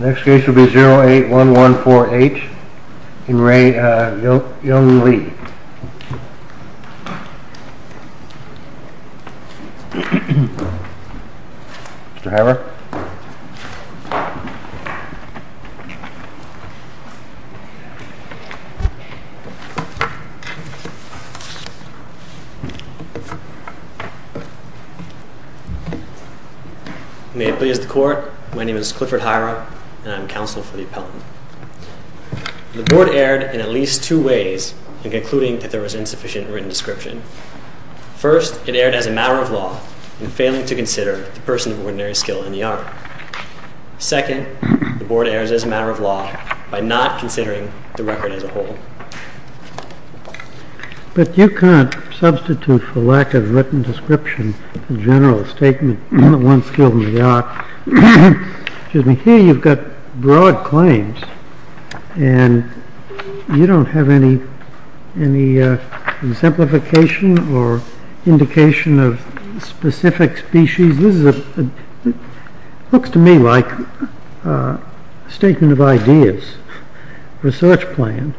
The next case will be 08114H in Rae Young Lee. Mr. Hammer. May it please the court. My name is Clifford Hira, and I'm counsel for the appellant. The board erred in at least two ways in concluding that there was insufficient written description. First, it erred as a matter of law in failing to consider the person of ordinary skill in the art. Second, the board errs as a matter of law by not considering the record as a whole. But you can't substitute for lack of written description a general statement on the one skill in the art. Here you've got broad claims, and you don't have any exemplification or indication of specific species. This looks to me like a statement of ideas, research plan.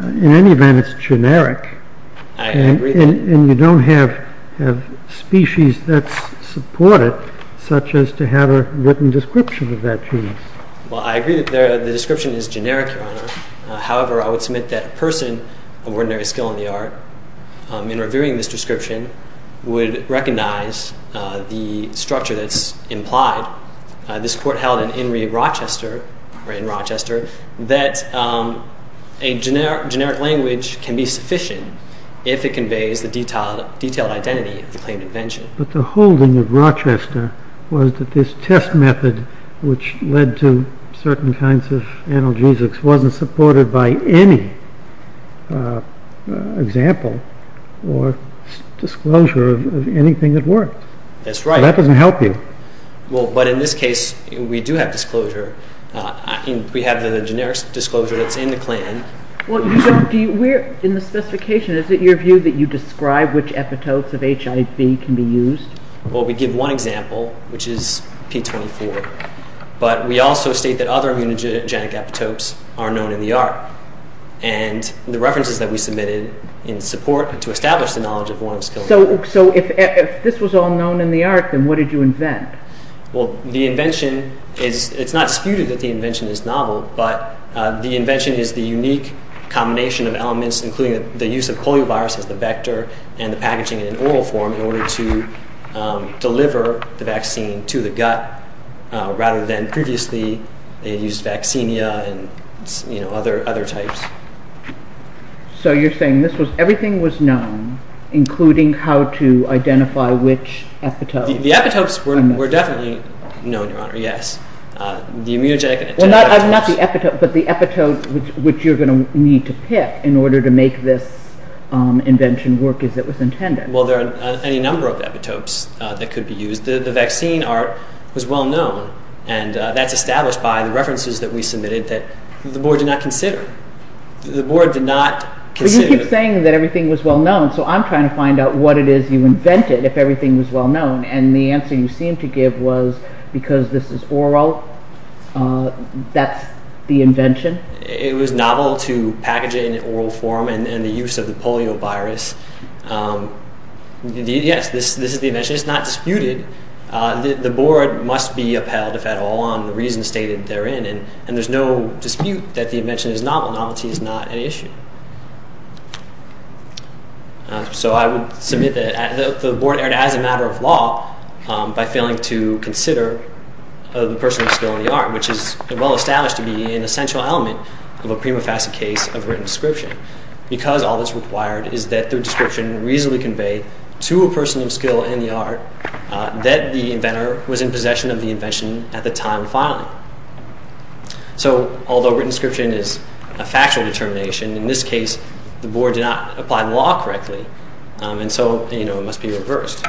In any event, it's generic. And you don't have species that support it, such as to have a written description of that genius. Well, I agree that the description is generic, Your Honor. However, I would submit that a person of ordinary skill in the art, in reviewing this description, would recognize the structure that's implied. This court held in Henry of Rochester that a generic language can be sufficient if it conveys the detailed identity of the claimed invention. But the holding of Rochester was that this test method, which led to certain kinds of analgesics, wasn't supported by any example or disclosure of anything that worked. That's right. That doesn't help you. Well, but in this case, we do have disclosure. We have the generic disclosure that's in the plan. Well, you don't. In the specification, is it your view that you describe which epitopes of HIV can be used? Well, we give one example, which is P24. But we also state that other immunogenic epitopes are known in the art. And the references that we submitted in support to establish the knowledge of one skill. So if this was all known in the art, then what did you invent? Well, the invention is, it's not disputed that the invention is novel, but the invention is the unique combination of elements, including the use of poliovirus as the vector and the packaging in an oral form in order to deliver the vaccine to the gut, rather than previously they used vaccinia and other types. So you're saying this was, everything was known, including how to identify which epitopes? The epitopes were definitely known, Your Honor, yes. The immunogenic and antigenic epitopes. Well, not the epitopes, but the epitopes which you're going to need to pick in order to make this invention work as it was intended. Well, there are any number of epitopes that could be used. The vaccine art was well known, and that's established by the references that we submitted that the Board did not consider. The Board did not consider. But you keep saying that everything was well known, so I'm trying to find out what it is you invented if everything was well known, and the answer you seem to give was because this is oral, that's the invention? It was novel to package it in oral form and the use of the poliovirus. Yes, this is the invention. It's not disputed. The Board must be upheld, if at all, on the reasons stated therein, and there's no dispute that the invention is novel. Novelty is not an issue. So I would submit that the Board erred as a matter of law by failing to consider the personal disability art, which is well established to be an essential element of a prima facie case of written description, because all that's required is that the description reasonably convey to a person of skill in the art that the inventor was in possession of the invention at the time of filing. So although written description is a factual determination, in this case the Board did not apply the law correctly, and so it must be reversed.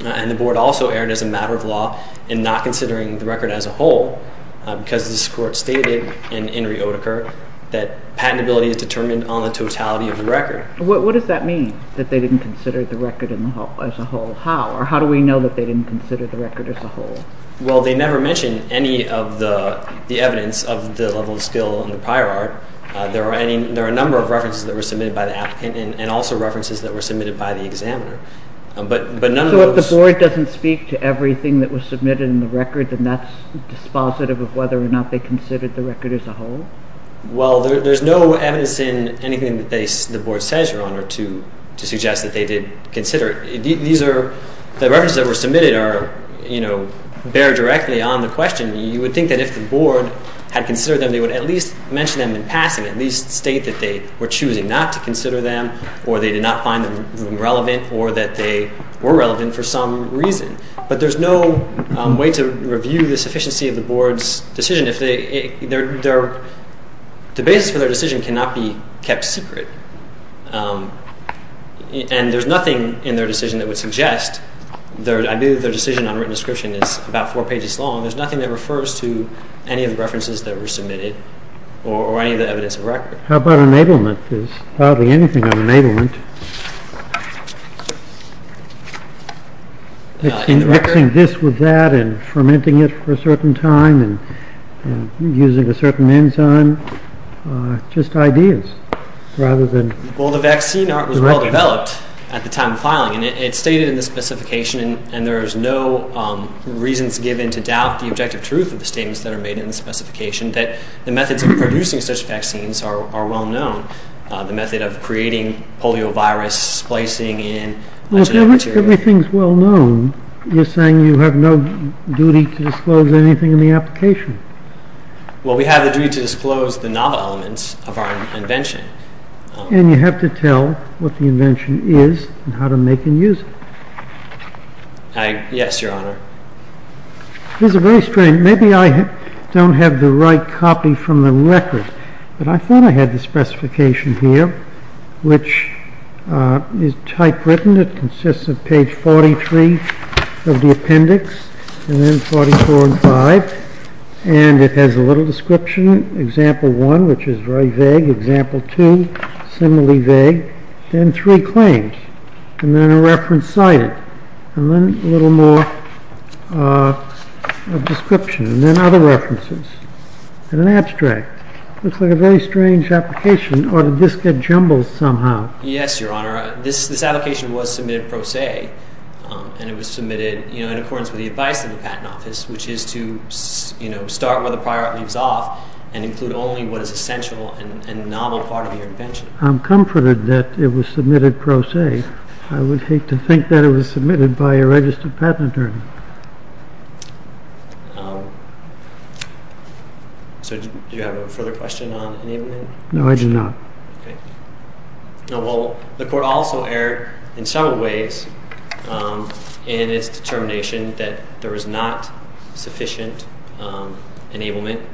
And the Board also erred as a matter of law in not considering the record as a whole, because this Court stated in Inri Oedeker that patentability is determined on the totality of the record. What does that mean, that they didn't consider the record as a whole? How, or how do we know that they didn't consider the record as a whole? Well, they never mention any of the evidence of the level of skill in the prior art. There are a number of references that were submitted by the applicant and also references that were submitted by the examiner. So if the Board doesn't speak to everything that was submitted in the record, then that's dispositive of whether or not they considered the record as a whole? Well, there's no evidence in anything that the Board says, Your Honor, to suggest that they did consider it. The references that were submitted bear directly on the question. You would think that if the Board had considered them, they would at least mention them in passing, at least state that they were choosing not to consider them, or they did not find them relevant, or that they were relevant for some reason. But there's no way to review the sufficiency of the Board's decision. The basis for their decision cannot be kept secret. And there's nothing in their decision that would suggest, I believe their decision on written description is about four pages long, there's nothing that refers to any of the references that were submitted or any of the evidence of record. How about enablement? There's hardly anything on enablement. Mixing this with that and fermenting it for a certain time and using a certain enzyme. Just ideas, rather than... Well, the vaccine was well-developed at the time of filing, and it's stated in the specification, and there's no reasons given to doubt the objective truth of the statements that are made in the specification, that the methods of producing such vaccines are well-known. The method of creating poliovirus, splicing in... Well, if everything's well-known, you're saying you have no duty to disclose anything in the application. Well, we have the duty to disclose the novel elements of our invention. And you have to tell what the invention is and how to make and use it. Yes, Your Honor. This is very strange. Maybe I don't have the right copy from the record, but I thought I had the specification here, which is typewritten. It consists of page 43 of the appendix, and then 44 and 5, and it has a little description, example 1, which is very vague, example 2, similarly vague, then three claims, and then a reference cited, and then a little more description, and then other references, and an abstract. It looks like a very strange application, or did this get jumbled somehow? Yes, Your Honor. This application was submitted pro se, and it was submitted in accordance with the advice of the Patent Office, which is to start where the prior art leaves off and include only what is essential and novel part of your invention. I'm comforted that it was submitted pro se. I would hate to think that it was submitted by a registered patent attorney. So do you have a further question on enablement? No, I do not. Well, the court also erred in several ways in its determination that there was not sufficient enablement.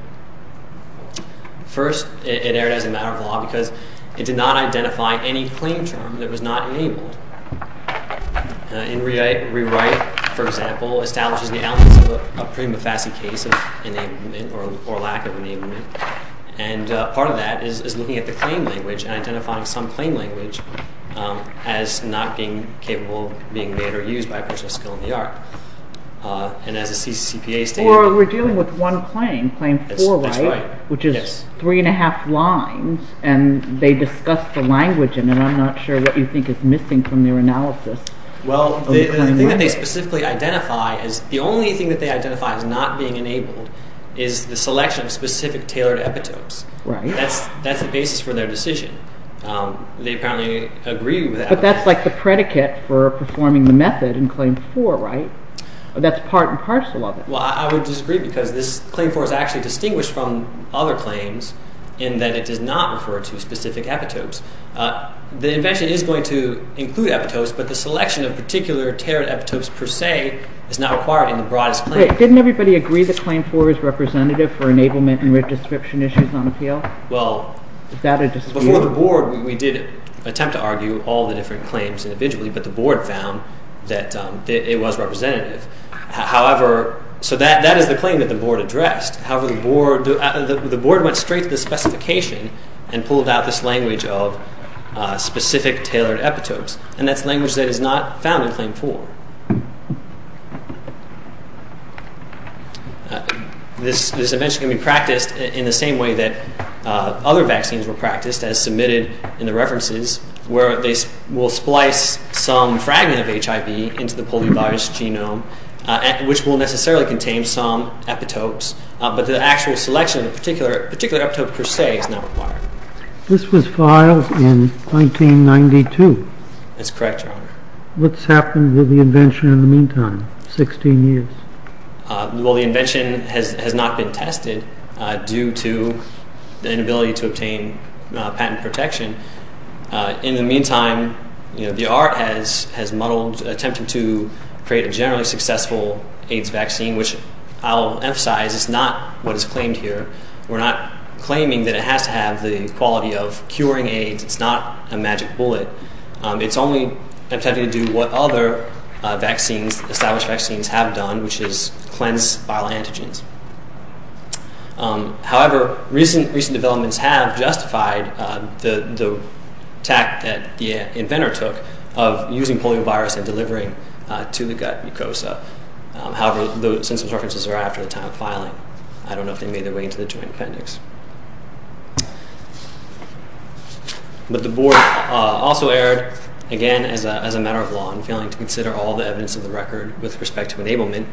First, it erred as a matter of law because it did not identify any claim term that was not enabled. In rewrite, for example, it establishes the absence of a prima facie case of enablement or lack of enablement, and part of that is looking at the claim language and identifying some claim language as not being capable of being made or used by a person of skill in the art. Or we're dealing with one claim, Claim 4, which is three and a half lines, and they discuss the language, and I'm not sure what you think is missing from their analysis. Well, the only thing that they identify as not being enabled is the selection of specific tailored epitopes. That's the basis for their decision. They apparently agree with that. But that's like the predicate for performing the method in Claim 4, right? That's part and parcel of it. Well, I would disagree because this Claim 4 is actually distinguished from other claims in that it does not refer to specific epitopes. The invention is going to include epitopes, but the selection of particular tailored epitopes per se is not required in the broadest claim. Wait. Didn't everybody agree that Claim 4 is representative for enablement and redescription issues on appeal? Well, before the Board, we did attempt to argue all the different claims individually, but the Board found that it was representative. However, so that is the claim that the Board addressed. However, the Board went straight to the specification and pulled out this language of specific tailored epitopes, and that's language that is not found in Claim 4. This invention can be practiced in the same way that other vaccines were practiced, as submitted in the references, where they will splice some fragment of HIV into the poliovirus genome, which will necessarily contain some epitopes, but the actual selection of a particular epitope per se is not required. This was filed in 1992. That's correct, Your Honor. What's happened with the invention in the meantime, 16 years? Well, the invention has not been tested due to the inability to obtain patent protection. In the meantime, the ART has muddled, attempted to create a generally successful AIDS vaccine, which I'll emphasize is not what is claimed here. We're not claiming that it has to have the quality of curing AIDS. It's not a magic bullet. It's only attempting to do what other established vaccines have done, which is cleanse viral antigens. However, recent developments have justified the attack that the inventor took of using poliovirus and delivering to the gut mucosa. However, those references are after the time of filing. I don't know if they made their way into the Joint Appendix. But the Board also erred, again, as a matter of law in failing to consider all the evidence of the record with respect to enablement,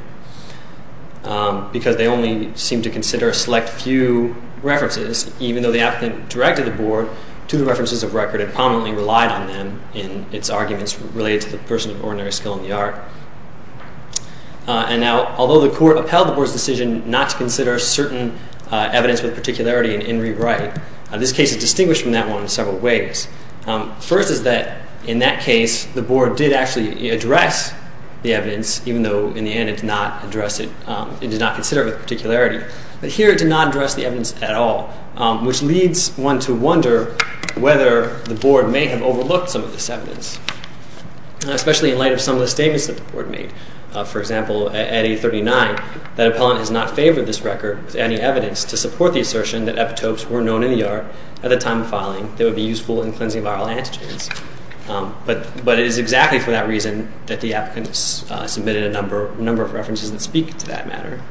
because they only seemed to consider a select few references, even though the applicant directed the Board to the references of record and prominently relied on them in its arguments related to the person of ordinary skill in the ART. And now, although the Court upheld the Board's decision not to consider certain evidence with particularity in rewrite, this case is distinguished from that one in several ways. First is that, in that case, the Board did actually address the evidence, even though, in the end, it did not consider it with particularity. But here it did not address the evidence at all, which leads one to wonder whether the Board may have overlooked some of this evidence, especially in light of some of the statements that the Board made. For example, at 839, that appellant has not favored this record with any evidence to support the assertion that epitopes were known in the ART at the time of filing that would be useful in cleansing viral antigens. But it is exactly for that reason that the applicants submitted a number of references that speak to that matter.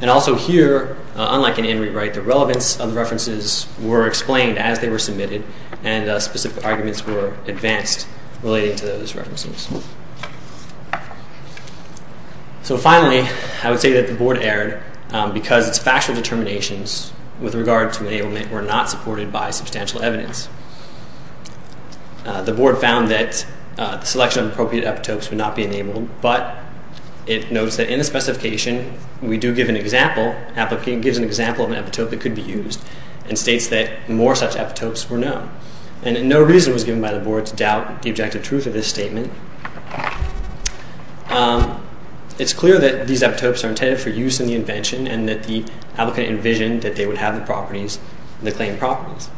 And also here, unlike in in rewrite, the relevance of the references were explained as they were submitted and specific arguments were advanced relating to those references. So finally, I would say that the Board erred because its factual determinations with regard to enablement were not supported by substantial evidence. The Board found that the selection of appropriate epitopes would not be enabled, but it notes that in the specification, we do give an example, the applicant gives an example of an epitope that could be used and states that more such epitopes were known. And no reason was given by the Board to doubt the objective truth of this statement. It's clear that these epitopes are intended for use in the invention and that the applicant envisioned that they would have the properties, the claimed properties.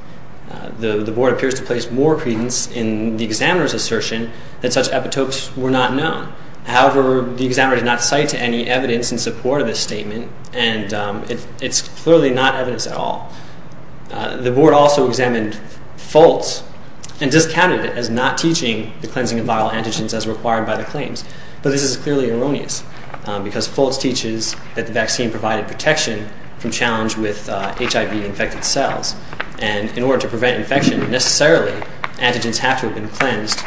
The Board appears to place more credence in the examiner's assertion that such epitopes were not known. However, the examiner did not cite any evidence in support of this statement. And it's clearly not evidence at all. The Board also examined Foltz and discounted it as not teaching the cleansing of viral antigens as required by the claims. But this is clearly erroneous because Foltz teaches that the vaccine provided protection from challenge with HIV-infected cells. And in order to prevent infection, necessarily, antigens have to have been cleansed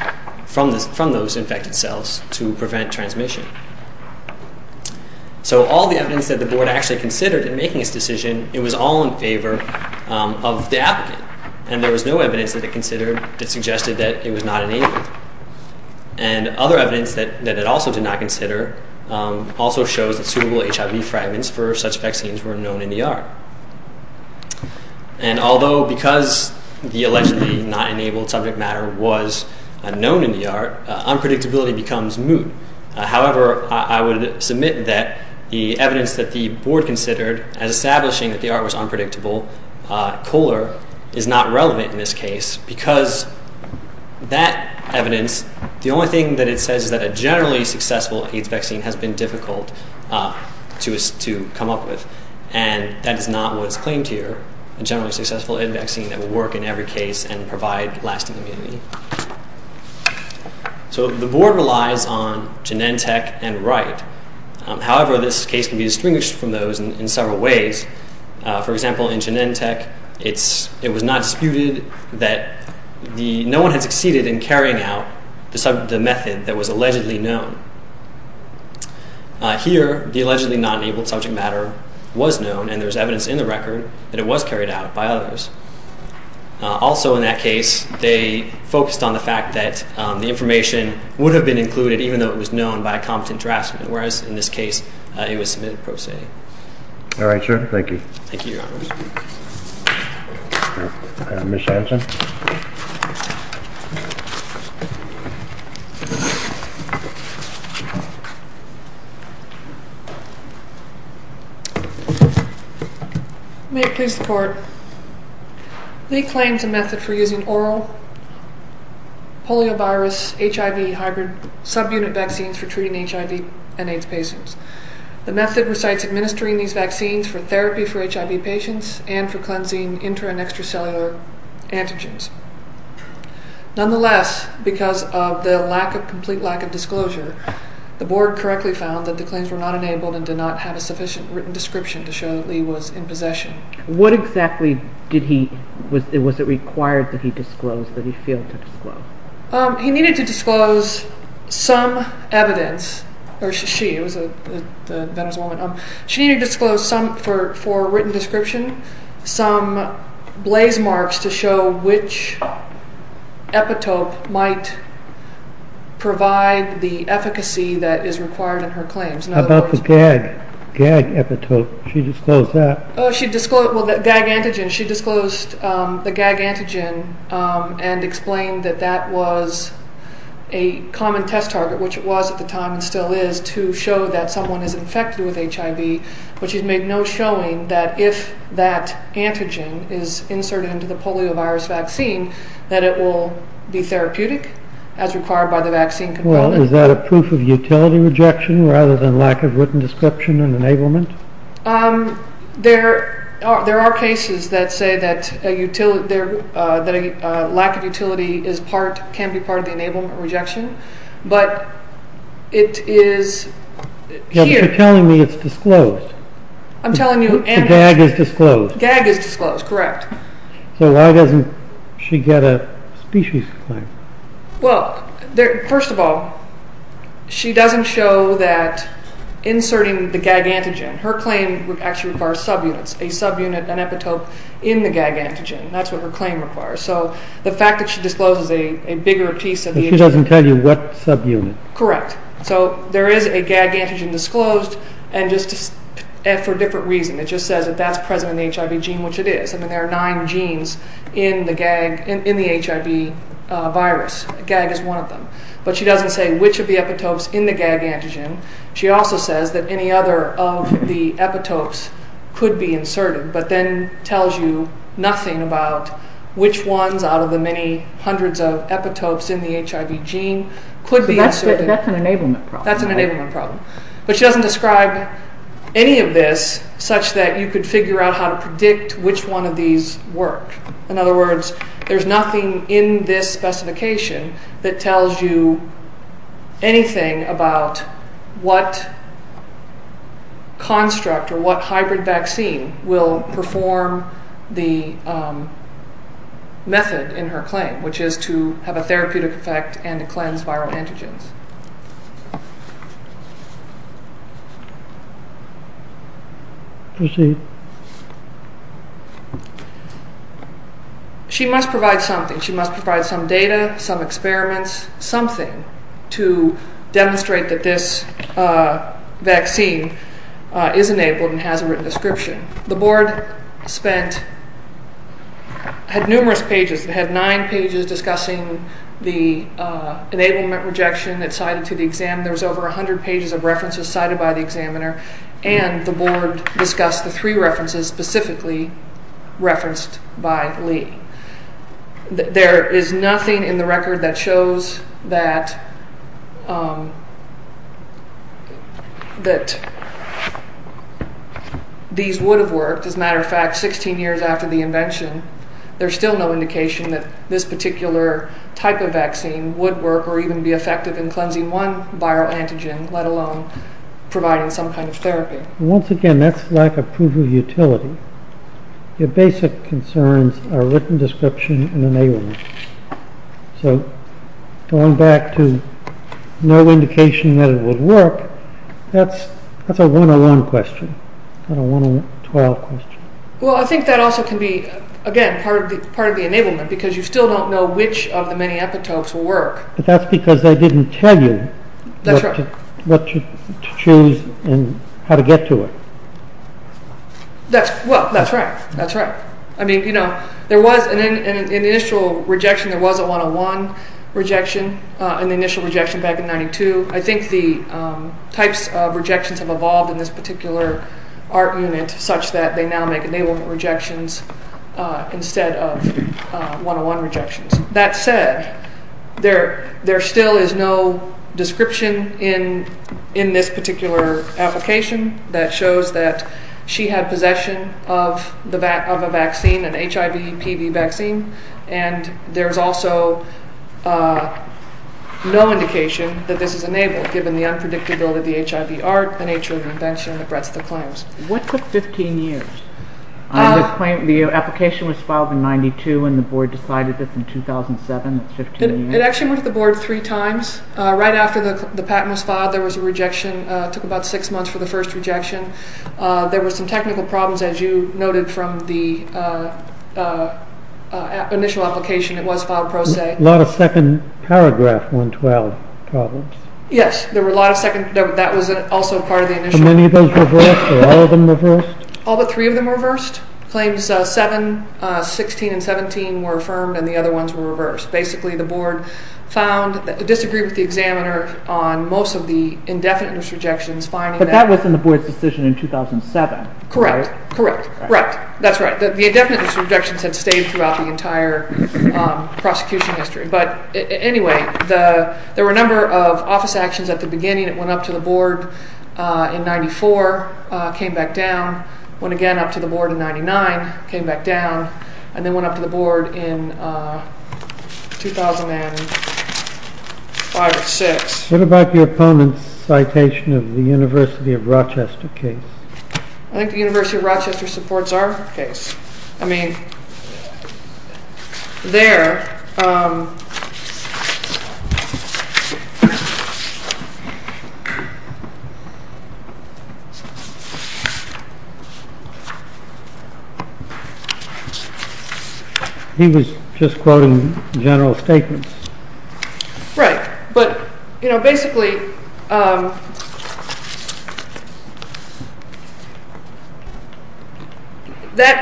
from those infected cells to prevent transmission. So all the evidence that the Board actually considered in making this decision, it was all in favor of the applicant. And there was no evidence that it considered that suggested that it was not enabled. And other evidence that it also did not consider also shows that suitable HIV fragments for such vaccines were known in the art. And although because the allegedly not enabled subject matter was known in the art, unpredictability becomes moot. However, I would submit that the evidence that the Board considered as establishing that the art was unpredictable, COLAR, is not relevant in this case because that evidence, the only thing that it says is that a generally successful AIDS vaccine has been difficult to come up with. And that is not what is claimed here. A generally successful vaccine that will work in every case and provide lasting immunity. So the Board relies on Genentech and Wright. However, this case can be distinguished from those in several ways. For example, in Genentech, it was not disputed that no one had succeeded in carrying out the method that was allegedly known. Here, the allegedly not enabled subject matter was known and there is evidence in the record that it was carried out by others. Also in that case, they focused on the fact that the information would have been included even though it was known by a competent draftsman. Whereas in this case, it was submitted pro se. All right, sir. Thank you. Thank you, Your Honor. Ms. Shanchon. May it please the Court. Lee claims a method for using oral poliovirus HIV hybrid subunit vaccines for treating HIV and AIDS patients. The method recites administering these vaccines for therapy for HIV patients and for cleansing intra and extracellular antigens. Nonetheless, because of the complete lack of disclosure, the Board correctly found that the claims were not enabled and did not have a sufficient written description to show that Lee was in possession. What exactly was it required that he disclose, that he failed to disclose? He needed to disclose some evidence, or she, it was the veteran's woman. She needed to disclose some, for a written description, some blaze marks to show which epitope might provide the efficacy that is required in her claims. How about the GAG epitope? She disclosed that. Oh, she disclosed, well, the GAG antigen. She disclosed the GAG antigen and explained that that was a common test target, which it was at the time and still is, to show that someone is infected with HIV, but she's made no showing that if that antigen is inserted into the poliovirus vaccine, that it will be therapeutic as required by the vaccine. Well, is that a proof of utility rejection rather than lack of written description and enablement? There are cases that say that a lack of utility is part, can be part of the enablement rejection, but it is here. You're telling me it's disclosed. I'm telling you. The GAG is disclosed. GAG is disclosed, correct. So why doesn't she get a species claim? Well, first of all, she doesn't show that inserting the GAG antigen, her claim would actually require subunits, a subunit, an epitope in the GAG antigen, that's what her claim requires. So the fact that she discloses a bigger piece of the HIV... She doesn't tell you what subunit. Correct. So there is a GAG antigen disclosed and just for a different reason. It just says that that's present in the HIV gene, which it is. I mean, there are nine genes in the HIV virus. GAG is one of them. But she doesn't say which of the epitopes in the GAG antigen. She also says that any other of the epitopes could be inserted, but then tells you nothing about which ones out of the many hundreds of epitopes in the HIV gene could be inserted. That's an enablement problem. But she doesn't describe any of this such that you could figure out how to predict which one of these worked. In other words, there's nothing in this specification that tells you anything about what construct or what hybrid vaccine will perform the method in her claim, which is to have a therapeutic effect and to cleanse viral antigens. She must provide something. She must provide some data, some experiments, something to demonstrate that this vaccine is enabled and has a written description. The board had numerous pages. It had nine pages discussing the enablement rejection that's cited to the exam. There's over 100 pages of references cited by the examiner, and the board discussed the three references specifically referenced by Lee. There is nothing in the record that shows that these would have worked. As a matter of fact, 16 years after the invention, there's still no indication that this particular type of vaccine would work or even be effective in cleansing one viral antigen, let alone providing some kind of therapy. Once again, that's lack of proof of utility. Your basic concerns are written description and enablement. So, going back to no indication that it would work, that's a 101 question, not a 112 question. Well, I think that also can be, again, part of the enablement, because you still don't know which of the many epitopes will work. But that's because they didn't tell you what to choose and how to get to it. Well, that's right, that's right. I mean, you know, there was an initial rejection, there was a 101 rejection, and the initial rejection back in 92. I think the types of rejections have evolved in this particular art unit such that they now make enablement rejections instead of 101 rejections. That said, there still is no description in this particular application that shows that she had possession of a vaccine, an HIV-PB vaccine, and there's also no indication that this is enabled, given the unpredictability of the HIV art, the nature of the invention, and the breadth of the claims. What took 15 years? The application was filed in 92 and the board decided that in 2007, that's 15 years. It actually went to the board three times. Right after the patent was filed, there was a rejection. It took about six months for the first rejection. There were some technical problems, as you noted from the initial application. It was filed pro se. A lot of second paragraph 112 problems. Yes, there were a lot of second, that was also part of the initial. Were many of those reversed? Were all of them reversed? All but three of them were reversed. Claims 7, 16, and 17 were affirmed and the other ones were reversed. Basically, the board disagreed with the examiner on most of the indefinite misrejections. But that was in the board's decision in 2007. Correct, correct. That's right. The indefinite misrejections had stayed throughout the entire prosecution history. Anyway, there were a number of office actions at the beginning. It went up to the board in 94, came back down, went again up to the board in 99, came back down, and then went up to the board in 2005 or 2006. What about the opponent's citation of the University of Rochester case? I think the University of Rochester supports our case. I mean, there... He was just quoting general statements. Right, but basically, that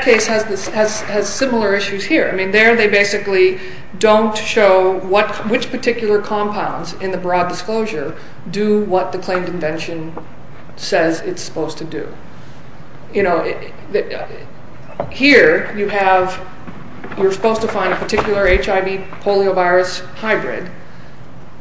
case has similar issues here. I mean, there they basically don't show which particular compounds in the broad disclosure do what the claimed invention says it's supposed to do. Here, you're supposed to find a particular HIV poliovirus hybrid,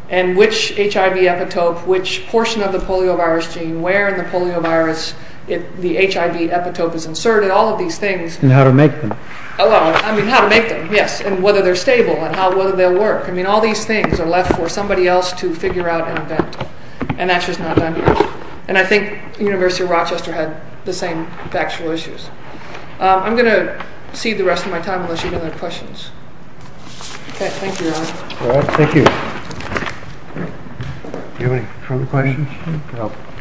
and which HIV epitope, which portion of the poliovirus gene, where in the poliovirus the HIV epitope is inserted, all of these things... And how to make them. I mean, how to make them, yes, and whether they're stable, and whether they'll work. I mean, all these things are left for somebody else to figure out and invent. And that's just not done here. And I think the University of Rochester had the same factual issues. I'm going to cede the rest of my time, unless you have any other questions. Okay, thank you, Ron. Thank you. Do you have any further questions?